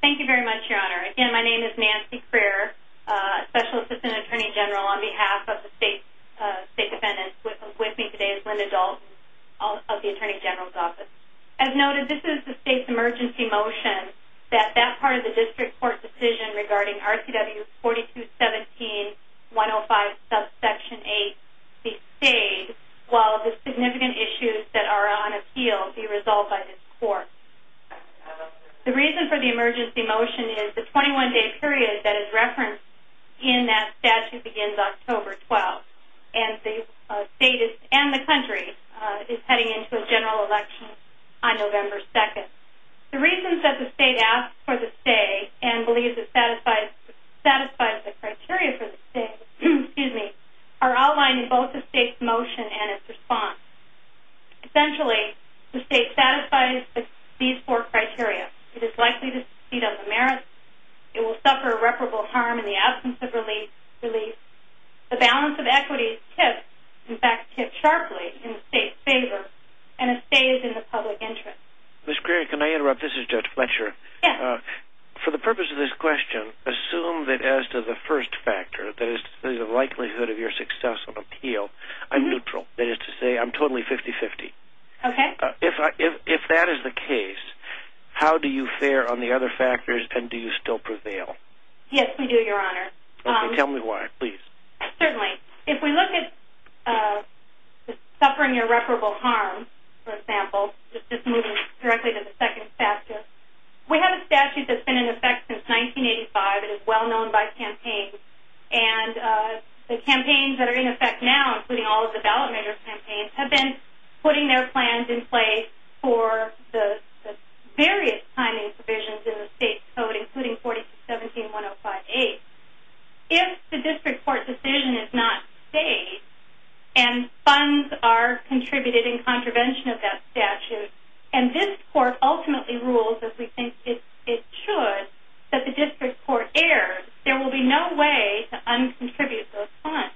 Thank you very much, Your Honor. Again, my name is Nancy Crear, Special Assistant Attorney General on behalf of the State's State Defendant. With me today is Linda Dalton of the Attorney General's Office. As noted, this is the State's emergency motion that that part of the District Court decision regarding RCW 4217-105 subsection 8 be stayed while the significant issues that are on appeal be resolved by this Court. The reason for the emergency motion is the 21-day period that is referenced in that statute begins October 12th, and the State and the country is heading into a general election on November 2nd. The reasons that the State asks for the stay and believes it satisfies the criteria for the stay are outlined in both the State's motion and its response. Essentially, the State satisfies these four criteria. It is likely to succeed on the merits. It will suffer irreparable harm in the absence of relief. The balance of equity is tipped sharply in the State's favor, and it stays in the public interest. Judge Fletcher, for the purpose of this question, assume that as to the first factor, that is, the likelihood of your success on appeal, I'm neutral. That is to say, I'm totally 50-50. If that is the case, how do you fare on the other factors, and do you still prevail? Yes, we do, Your Honor. Tell me why, please. Certainly. If we look at suffering irreparable harm, for example, just moving directly to the second statute, we have a statute that has been in effect since 1985 and is well-known by campaigns. The campaigns that are in effect now, including all of the ballot measure campaigns, have been putting their plans in place for the various timing provisions in the State Code, including 4617-1058. If the district court decision is not stayed and funds are contributed in contravention of that statute, and this court ultimately rules, as we think it should, that the district court errs, there will be no way to un-contribute those funds.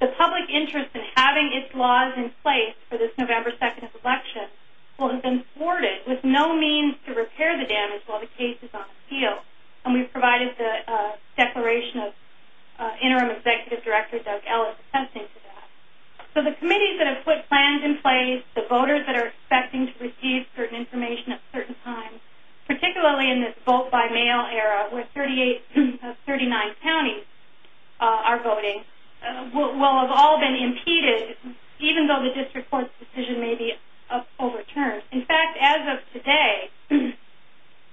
The public interest in having its laws in place for this November 2nd election will have been thwarted with no means to repair the damage while the case is on appeal, and we've provided the declaration of Interim Executive Director Doug Ellis attesting to that. So the committees that have put plans in place, the voters that are expecting to receive certain information at certain times, particularly in this vote-by-mail era where 38 of 39 counties are voting, will have all been impeded, even though the district court's decision may be overturned. In fact, as of today,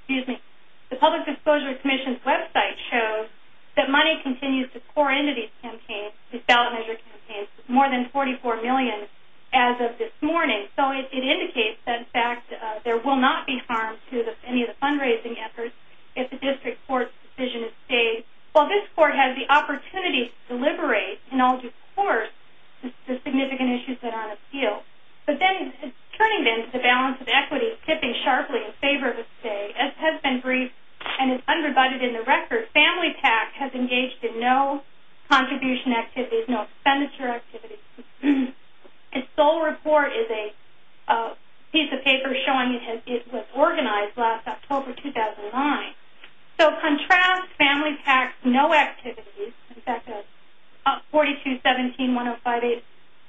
the Public Disclosure Commission's website shows that money continues to pour into these ballot measure campaigns, more than $44 million as of this morning. So it indicates that, in fact, there will not be harm to any of the fundraising efforts if the district court's decision is stayed, while this court has the opportunity to deliberate in all due course the significant issues that are on appeal. But then turning then to balance of equity, tipping sharply in favor of a stay, as has been briefed and is undivided in the record, family tax has engaged in no contribution activities, no expenditure activities. Its sole report is a piece of paper showing it was organized last October 2009. So contrast family tax, no activities, in fact, 4217-1058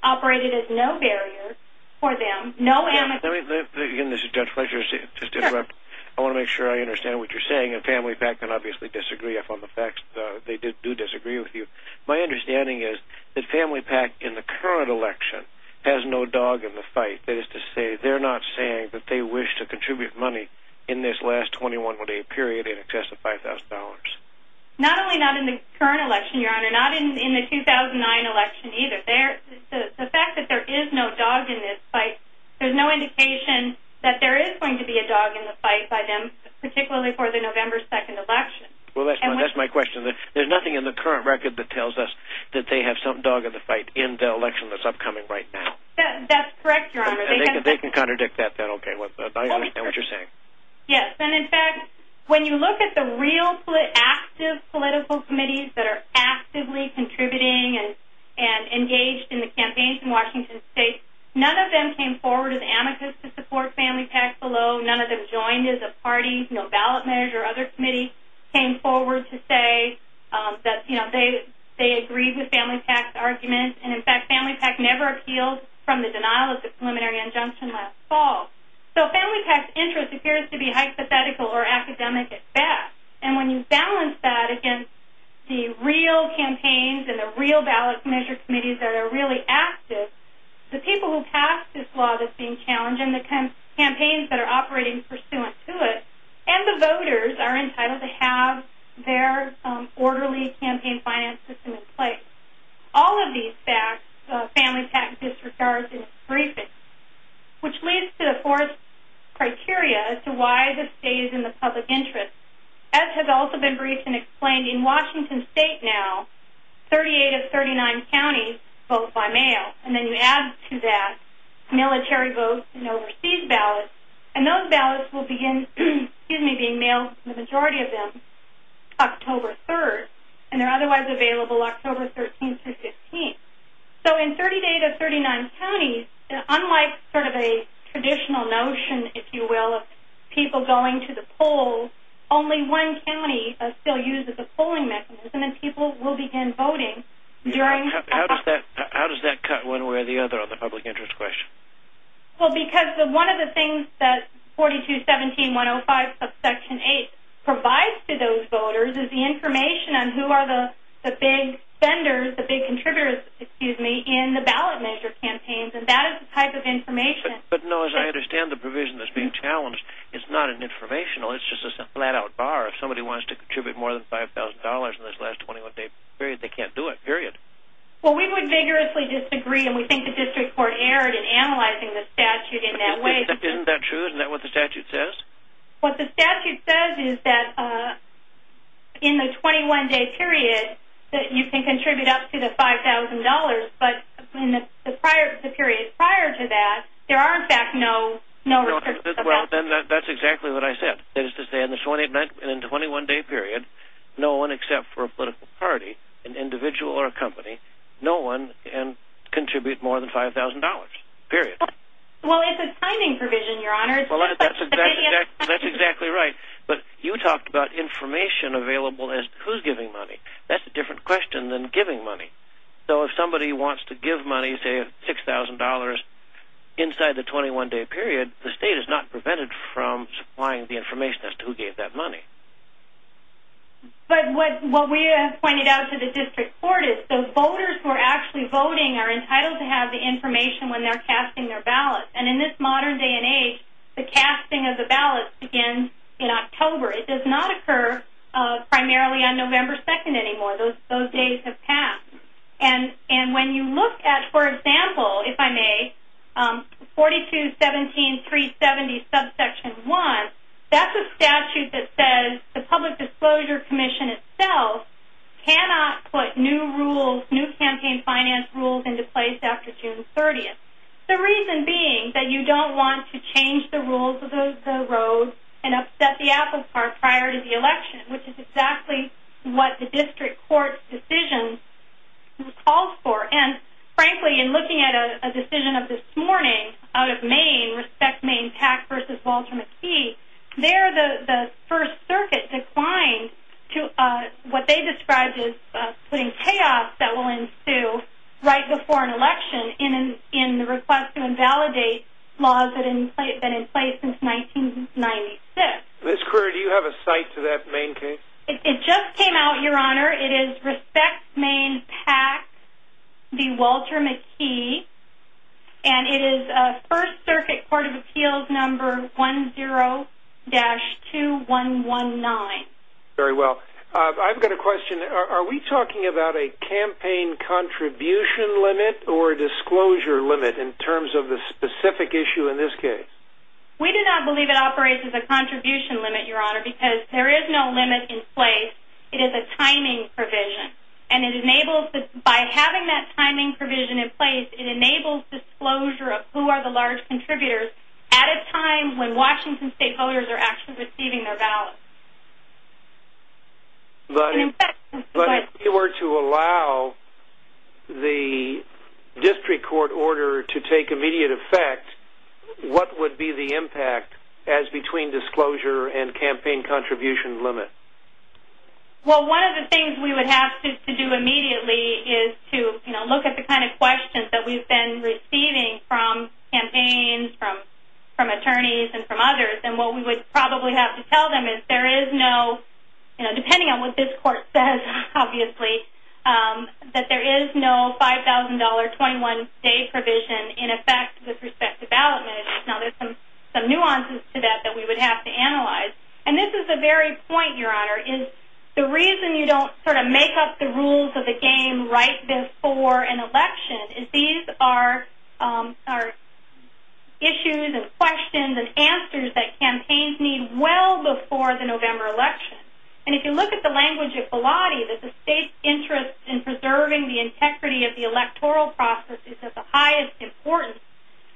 operated as no barrier for them, no amicus. Let me, again, this is Judge Fletcher, just interrupt. I want to make sure I understand what you're saying, and Family PAC can obviously disagree upon the facts. They do disagree with you. My understanding is that Family PAC, in the current election, has no dog in the fight. That is to say, they're not saying that they wish to contribute money in this last 21-day period in excess of $5,000. Not only not in the current election, Your Honor, not in the 2009 election either. The fact that there is no dog in this fight, there's no indication that there is going to be a dog in the fight by them, particularly for the November 2nd election. Well, that's my question. There's nothing in the current record that tells us that they have some dog in the fight in the election that's upcoming right now. That's correct, Your Honor. They can contradict that then. Okay, I understand what you're saying. Yes, and, in fact, when you look at the real active political committees that are actively contributing and engaged in the campaigns in Washington State, none of them came forward as amicus to support Family PAC below. None of them joined as a party. No ballot manager or other committee came forward to say that they agreed with Family PAC's argument. And, in fact, Family PAC never appealed from the denial of the preliminary injunction last fall. So Family PAC's interest appears to be hypothetical or academic at best. And when you balance that against the real campaigns and the real ballot measure committees that are really active, the people who pass this law that's being challenged and the campaigns that are operating pursuant to it and the voters are entitled to have their orderly campaign finance system in place. All of these facts, Family PAC disregards in its briefing, which leads to the fourth criteria as to why this stays in the public interest. As has also been briefed and explained, in Washington State now, 38 of 39 counties vote by mail. And then you add to that military votes and overseas ballots. And those ballots will begin being mailed, the majority of them, October 3rd. And they're otherwise available October 13th through 15th. So in 38 of 39 counties, unlike sort of a traditional notion, if you will, of people going to the polls, only one county still uses a polling mechanism and people will begin voting during... How does that cut one way or the other on the public interest question? Well, because one of the things that 4217.105 subsection 8 provides to those voters is the information on who are the big vendors, the big contributors, excuse me, in the ballot measure campaigns. And that is the type of information... But, Nellis, I understand the provision that's being challenged. It's not an informational. It's just a flat-out bar. If somebody wants to contribute more than $5,000 in this last 21-day period, they can't do it, period. Well, we would vigorously disagree, and we think the district court erred in analyzing the statute in that way. Isn't that true? Isn't that what the statute says? What the statute says is that in the 21-day period that you can contribute up to the $5,000, but in the period prior to that, there are, in fact, no... Well, then that's exactly what I said, is to say in the 21-day period, no one except for a political party, an individual or a company, no one can contribute more than $5,000, period. Well, it's a timing provision, Your Honor. Well, that's exactly right. But you talked about information available as to who's giving money. That's a different question than giving money. So if somebody wants to give money, say $6,000, inside the 21-day period, the state is not prevented from supplying the information as to who gave that money. But what we have pointed out to the district court is the voters who are actually voting are entitled to have the information when they're casting their ballot. And in this modern day and age, the casting of the ballot begins in October. It does not occur primarily on November 2nd anymore. Those days have passed. And when you look at, for example, if I may, 42-17-370 subsection 1, that's a statute that says the Public Disclosure Commission itself cannot put new rules, new campaign finance rules into place after June 30th. The reason being that you don't want to change the rules of the road and upset the apple cart prior to the election, which is exactly what the district court's decision calls for. And, frankly, in looking at a decision of this morning out of Maine, Respect Maine PAC versus Walter McKee, there the First Circuit declined to what they described as putting chaos that will ensue right before an election in the request to invalidate laws that have been in place since 1996. Ms. Kruger, do you have a cite to that Maine case? It just came out, Your Honor. It is Respect Maine PAC v. Walter McKee, and it is First Circuit Court of Appeals number 10-2119. Very well. I've got a question. Are we talking about a campaign contribution limit or a disclosure limit in terms of the specific issue in this case? We do not believe it operates as a contribution limit, Your Honor, because there is no limit in place. It is a timing provision, and by having that timing provision in place, it enables disclosure of who are the large contributors at a time when Washington state voters are actually receiving their ballots. But if you were to allow the district court order to take immediate effect, what would be the impact as between disclosure and campaign contribution limit? Well, one of the things we would have to do immediately is to, you know, look at the kind of questions that we've been receiving from campaigns, from attorneys, and from others, and what we would probably have to tell them is there is no, you know, depending on what this court says, obviously, that there is no $5,000 21-day provision in effect with respect to ballot management. Now there's some nuances to that that we would have to analyze. And this is the very point, Your Honor, is the reason you don't sort of make up the rules of the game, right before an election, is these are issues and questions and answers that campaigns need well before the November election. And if you look at the language of Pilate, that the state's interest in preserving the integrity of the electoral process is of the highest importance.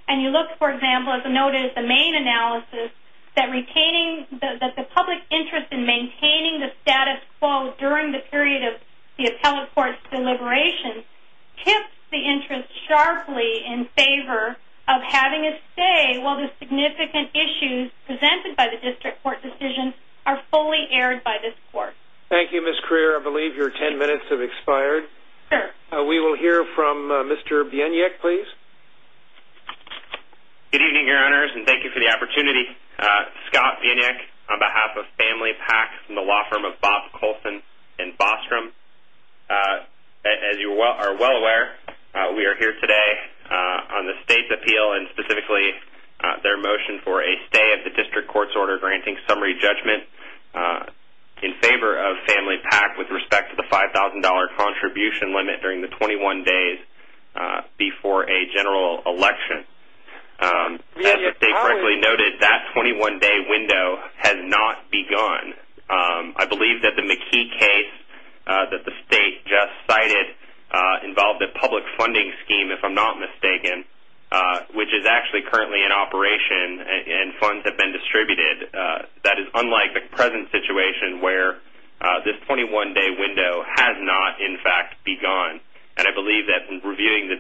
And you look, for example, as noted, the main analysis that retaining the public interest in maintaining the status quo during the period of the appellate court's deliberation tips the interest sharply in favor of having it stay while the significant issues presented by the district court decision are fully aired by this court. Thank you, Ms. Crear. I believe your 10 minutes have expired. Sure. We will hear from Mr. Bieniek, please. Good evening, Your Honors, and thank you for the opportunity. Scott Bieniek on behalf of Family PAC and the law firm of Bob Colson and Bostrom. As you are well aware, we are here today on the state's appeal and specifically their motion for a stay of the district court's order granting summary judgment in favor of Family PAC with respect to the $5,000 contribution limit during the 21 days before a general election. As the state correctly noted, that 21-day window has not begun. I believe that the McKee case that the state just cited involved a public funding scheme, if I'm not mistaken, which is actually currently in operation and funds have been distributed. That is unlike the present situation where this 21-day window has not, in fact, begun. I believe that reviewing the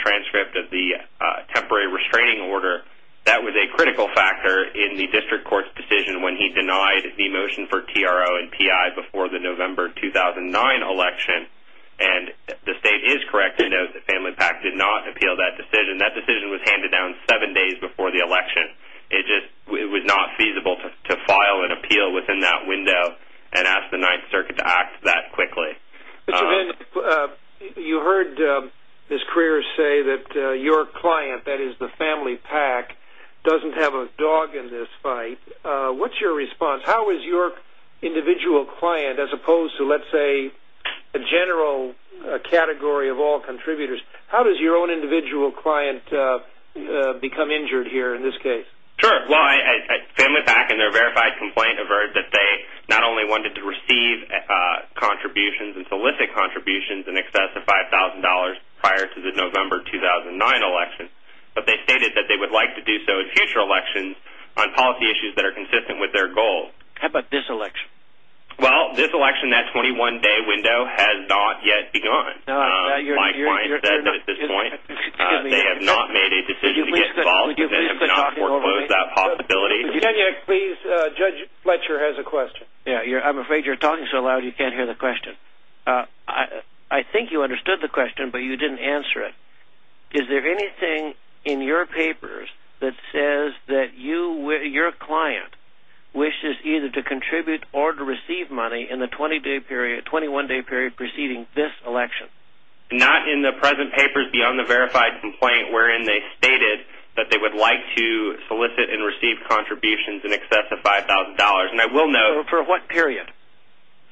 transcript of the temporary restraining order, that was a critical factor in the district court's decision when he denied the motion for TRO and PI before the November 2009 election. The state is correct to note that Family PAC did not appeal that decision. That decision was handed down seven days before the election. It was not feasible to file an appeal within that window and ask the Ninth Circuit to act that quickly. You heard Ms. Krier say that your client, that is the Family PAC, doesn't have a dog in this fight. What's your response? How is your individual client, as opposed to, let's say, a general category of all contributors, how does your own individual client become injured here in this case? Family PAC in their verified complaint averted that they not only wanted to receive contributions and solicit contributions in excess of $5,000 prior to the November 2009 election, but they stated that they would like to do so in future elections on policy issues that are consistent with their goals. How about this election? Well, this election, that 21-day window, has not yet begun. My client said that at this point they have not made a decision to get involved and have not foreclosed that possibility. Judge Fletcher has a question. I'm afraid you're talking so loud you can't hear the question. I think you understood the question, but you didn't answer it. Is there anything in your papers that says that your client wishes either to contribute or to receive money in the 21-day period preceding this election? Not in the present papers beyond the verified complaint wherein they stated that they would like to solicit and receive contributions in excess of $5,000. For what period?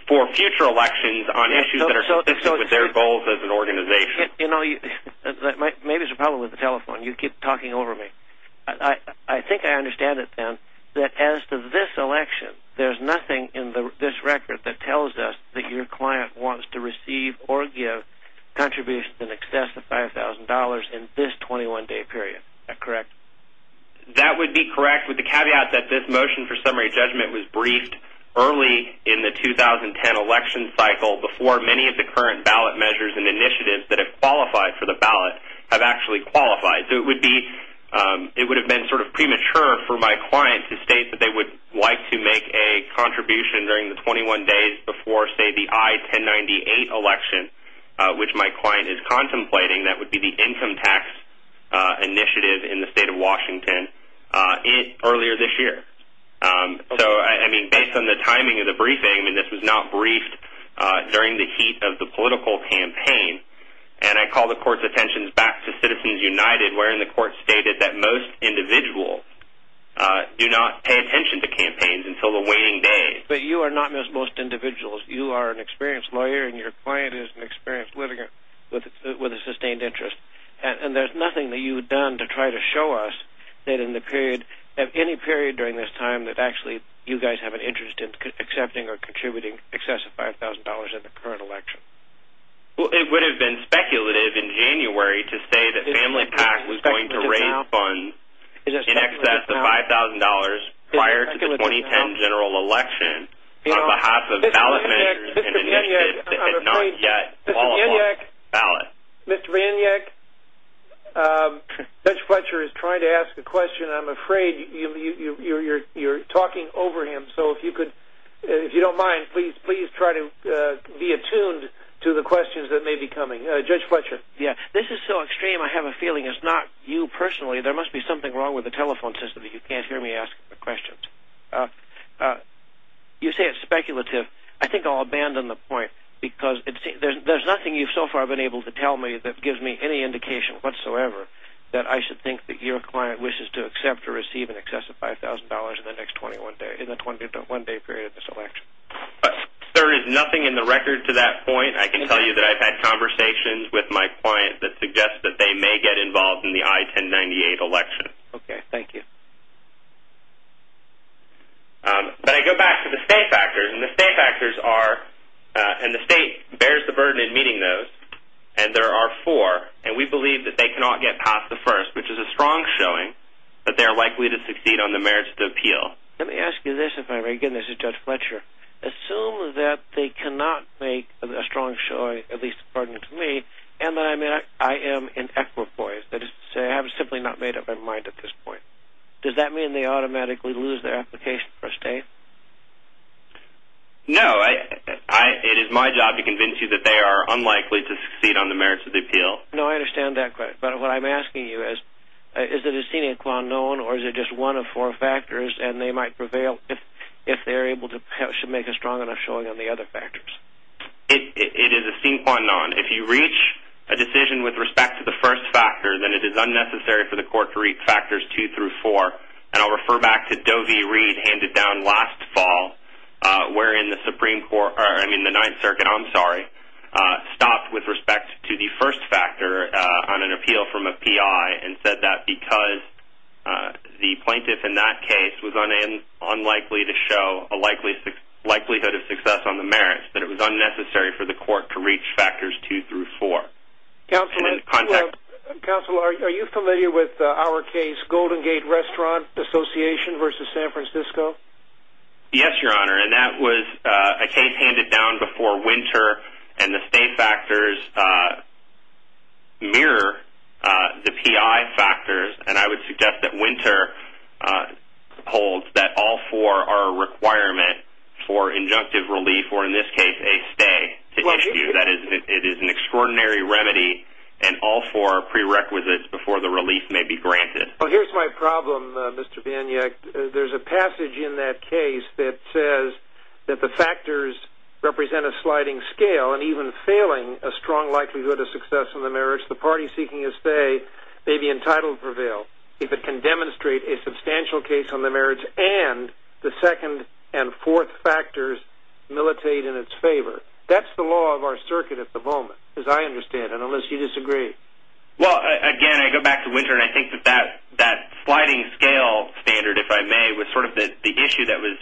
For future elections on issues that are consistent with their goals as an organization. Maybe there's a problem with the telephone. You keep talking over me. I think I understand it, then, that as to this election, there's nothing in this record that tells us that your client wants to receive or give contributions in excess of $5,000 in this 21-day period. Is that correct? That would be correct with the caveat that this motion for summary judgment was briefed early in the 2010 election cycle before many of the current ballot measures and initiatives that have qualified for the ballot have actually qualified. It would have been sort of premature for my client to state that they would like to make a contribution during the 21 days before, say, the I-1098 election, which my client is contemplating. That would be the income tax initiative in the state of Washington earlier this year. So, I mean, based on the timing of the briefing, this was not briefed during the heat of the political campaign. And I call the Court's attention back to Citizens United But you are not, as most individuals, you are an experienced lawyer and your client is an experienced litigant with a sustained interest. And there's nothing that you've done to try to show us that in the period, at any period during this time, that actually you guys have an interest in accepting or contributing in excess of $5,000 in the current election. Well, it would have been speculative in January to say that FamilyPact was going to raise funds in excess of $5,000 prior to the 2010 general election on behalf of ballot managers in an initiative that had not yet qualified for the ballot. Mr. Van Yak, Judge Fletcher is trying to ask a question. I'm afraid you're talking over him. So, if you don't mind, please try to be attuned to the questions that may be coming. Judge Fletcher. Yeah, this is so extreme I have a feeling it's not you personally. There must be something wrong with the telephone system that you can't hear me ask the questions. You say it's speculative. I think I'll abandon the point because there's nothing you've so far been able to tell me that gives me any indication whatsoever that I should think that your client wishes to accept or receive in excess of $5,000 in the next 21 days, in the 21-day period of this election. There is nothing in the record to that point. I can tell you that I've had conversations with my client that suggest that they may get involved in the I-1098 election. Okay, thank you. But I go back to the state factors, and the state factors are, and the state bears the burden in meeting those, and there are four, and we believe that they cannot get past the first, which is a strong showing that they are likely to succeed on the merits of the appeal. Let me ask you this if I may. Again, this is Judge Fletcher. Assume that they cannot make a strong showing, at least according to me, and that I am in equipoise, that is to say I have simply not made up my mind at this point. Does that mean they automatically lose their application for a stay? No. It is my job to convince you that they are unlikely to succeed on the merits of the appeal. No, I understand that, but what I'm asking you is is it a sine qua non or is it just one of four factors and they might prevail if they are able to make a strong enough showing on the other factors? It is a sine qua non. If you reach a decision with respect to the first factor, then it is unnecessary for the court to reach factors two through four. And I'll refer back to Doe v. Reed handed down last fall, wherein the Supreme Court, I mean the Ninth Circuit, I'm sorry, stopped with respect to the first factor on an appeal from a PI and said that because the plaintiff in that case was unlikely to show a likelihood of success on the merits, that it was unnecessary for the court to reach factors two through four. Counsel, are you familiar with our case, Golden Gate Restaurant Association v. San Francisco? Yes, Your Honor, and that was a case handed down before winter and the state factors mirror the PI factors. And I would suggest that winter holds that all four are a requirement for injunctive relief or in this case a stay to issue. That is, it is an extraordinary remedy and all four are prerequisites before the relief may be granted. Well, here's my problem, Mr. Paniak. There's a passage in that case that says that the factors represent a sliding scale and even failing a strong likelihood of success on the merits, the party seeking a stay may be entitled to prevail if it can demonstrate a substantial case on the merits and the second and fourth factors militate in its favor. That's the law of our circuit at the moment, as I understand it, unless you disagree. Well, again, I go back to winter and I think that that sliding scale standard, if I may, was sort of the issue that was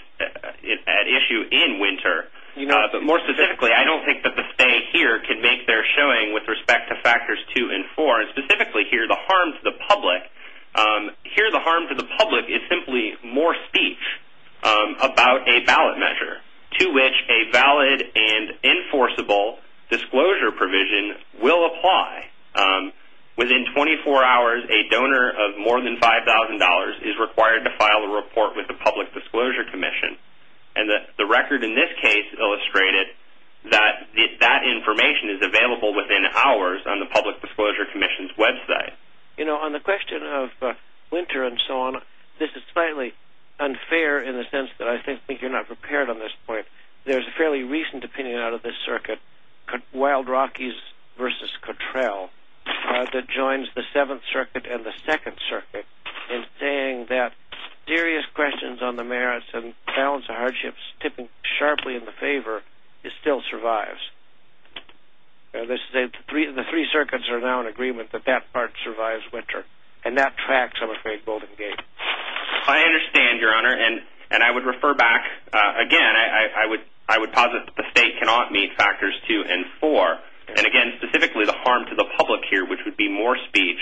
at issue in winter. But more specifically, I don't think that the stay here could make their showing with respect to factors two and four. Specifically here, the harm to the public is simply more speech about a ballot measure to which a valid and enforceable disclosure provision will apply. Within 24 hours, a donor of more than $5,000 is required to file a report with the Public Disclosure Commission. And the record in this case illustrated that that information is available within hours on the Public Disclosure Commission's website. You know, on the question of winter and so on, this is slightly unfair in the sense that I think you're not prepared on this point. There's a fairly recent opinion out of this circuit, Wild Rockies v. Cottrell, that joins the Seventh Circuit and the Second Circuit in saying that serious questions on the merits and balance of hardships tipping sharply in the favor still survives. The three circuits are now in agreement that that part survives winter. And that tracks, I'm afraid, Golden Gate. I understand, Your Honor, and I would refer back. Again, I would posit that the state cannot meet factors two and four. And again, specifically the harm to the public here, which would be more speech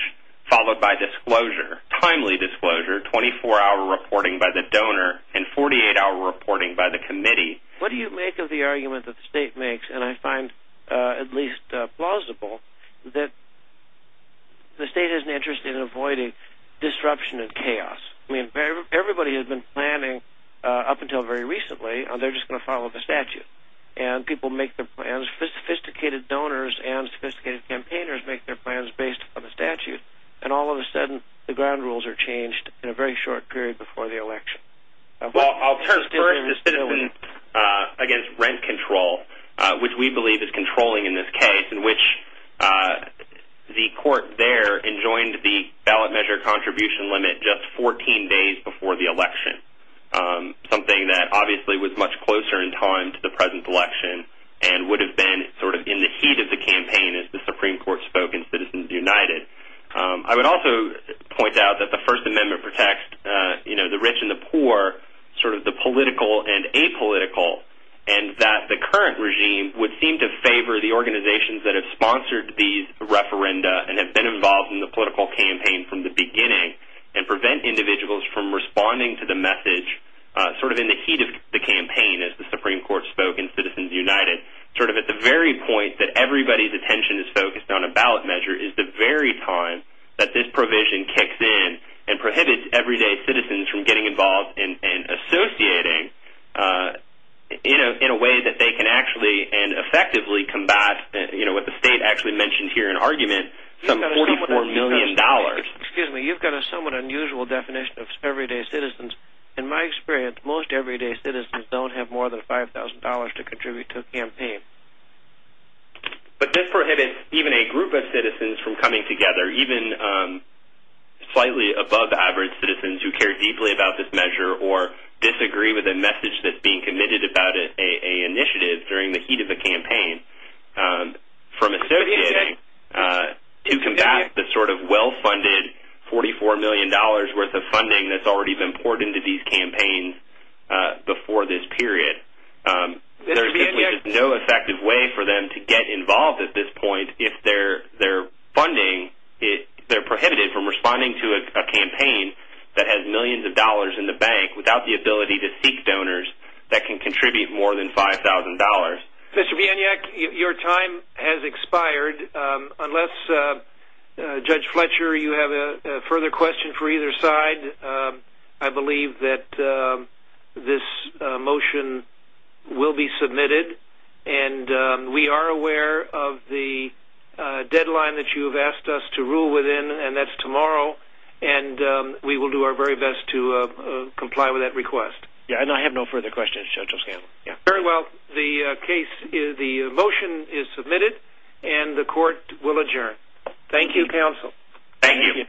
followed by disclosure, timely disclosure, 24-hour reporting by the donor, and 48-hour reporting by the committee. What do you make of the argument that the state makes, and I find at least plausible, that the state has an interest in avoiding disruption and chaos. I mean, everybody has been planning up until very recently, they're just going to follow the statute. And people make their plans. Sophisticated donors and sophisticated campaigners make their plans based on the statute. And all of a sudden, the ground rules are changed in a very short period before the election. Well, I'll turn first to Stiffen against rent control, which we believe is controlling in this case, in which the court there enjoined the ballot measure contribution limit just 14 days before the election, something that obviously was much closer in time to the present election and would have been sort of in the heat of the campaign as the Supreme Court spoke in Citizens United. I would also point out that the First Amendment protects the rich and the poor, sort of the political and apolitical, and that the current regime would seem to favor the organizations that have sponsored these referenda and have been involved in the political campaign from the beginning and prevent individuals from responding to the message sort of in the heat of the campaign, as the Supreme Court spoke in Citizens United. Sort of at the very point that everybody's attention is focused on a ballot measure is the very time that this provision kicks in and prohibits everyday citizens from getting involved and associating in a way that they can actually and effectively combat what the state actually mentioned here in argument, some $44 million. Excuse me, you've got a somewhat unusual definition of everyday citizens. In my experience, most everyday citizens don't have more than $5,000 to contribute to a campaign. But this prohibits even a group of citizens from coming together, even slightly above average citizens who care deeply about this measure or disagree with a message that's being committed about an initiative during the heat of a campaign, from associating to combat the sort of well-funded $44 million worth of funding that's already been poured into these campaigns before this period. There's simply no effective way for them to get involved at this point if their funding, they're prohibited from responding to a campaign that has millions of dollars in the bank without the ability to seek donors that can contribute more than $5,000. Mr. Vianyak, your time has expired. Unless, Judge Fletcher, you have a further question for either side, I believe that this motion will be submitted. And we are aware of the deadline that you've asked us to rule within, and that's tomorrow. And we will do our very best to comply with that request. And I have no further questions, Judge O'Scanlon. Very well. The motion is submitted, and the court will adjourn. Thank you, counsel. Thank you.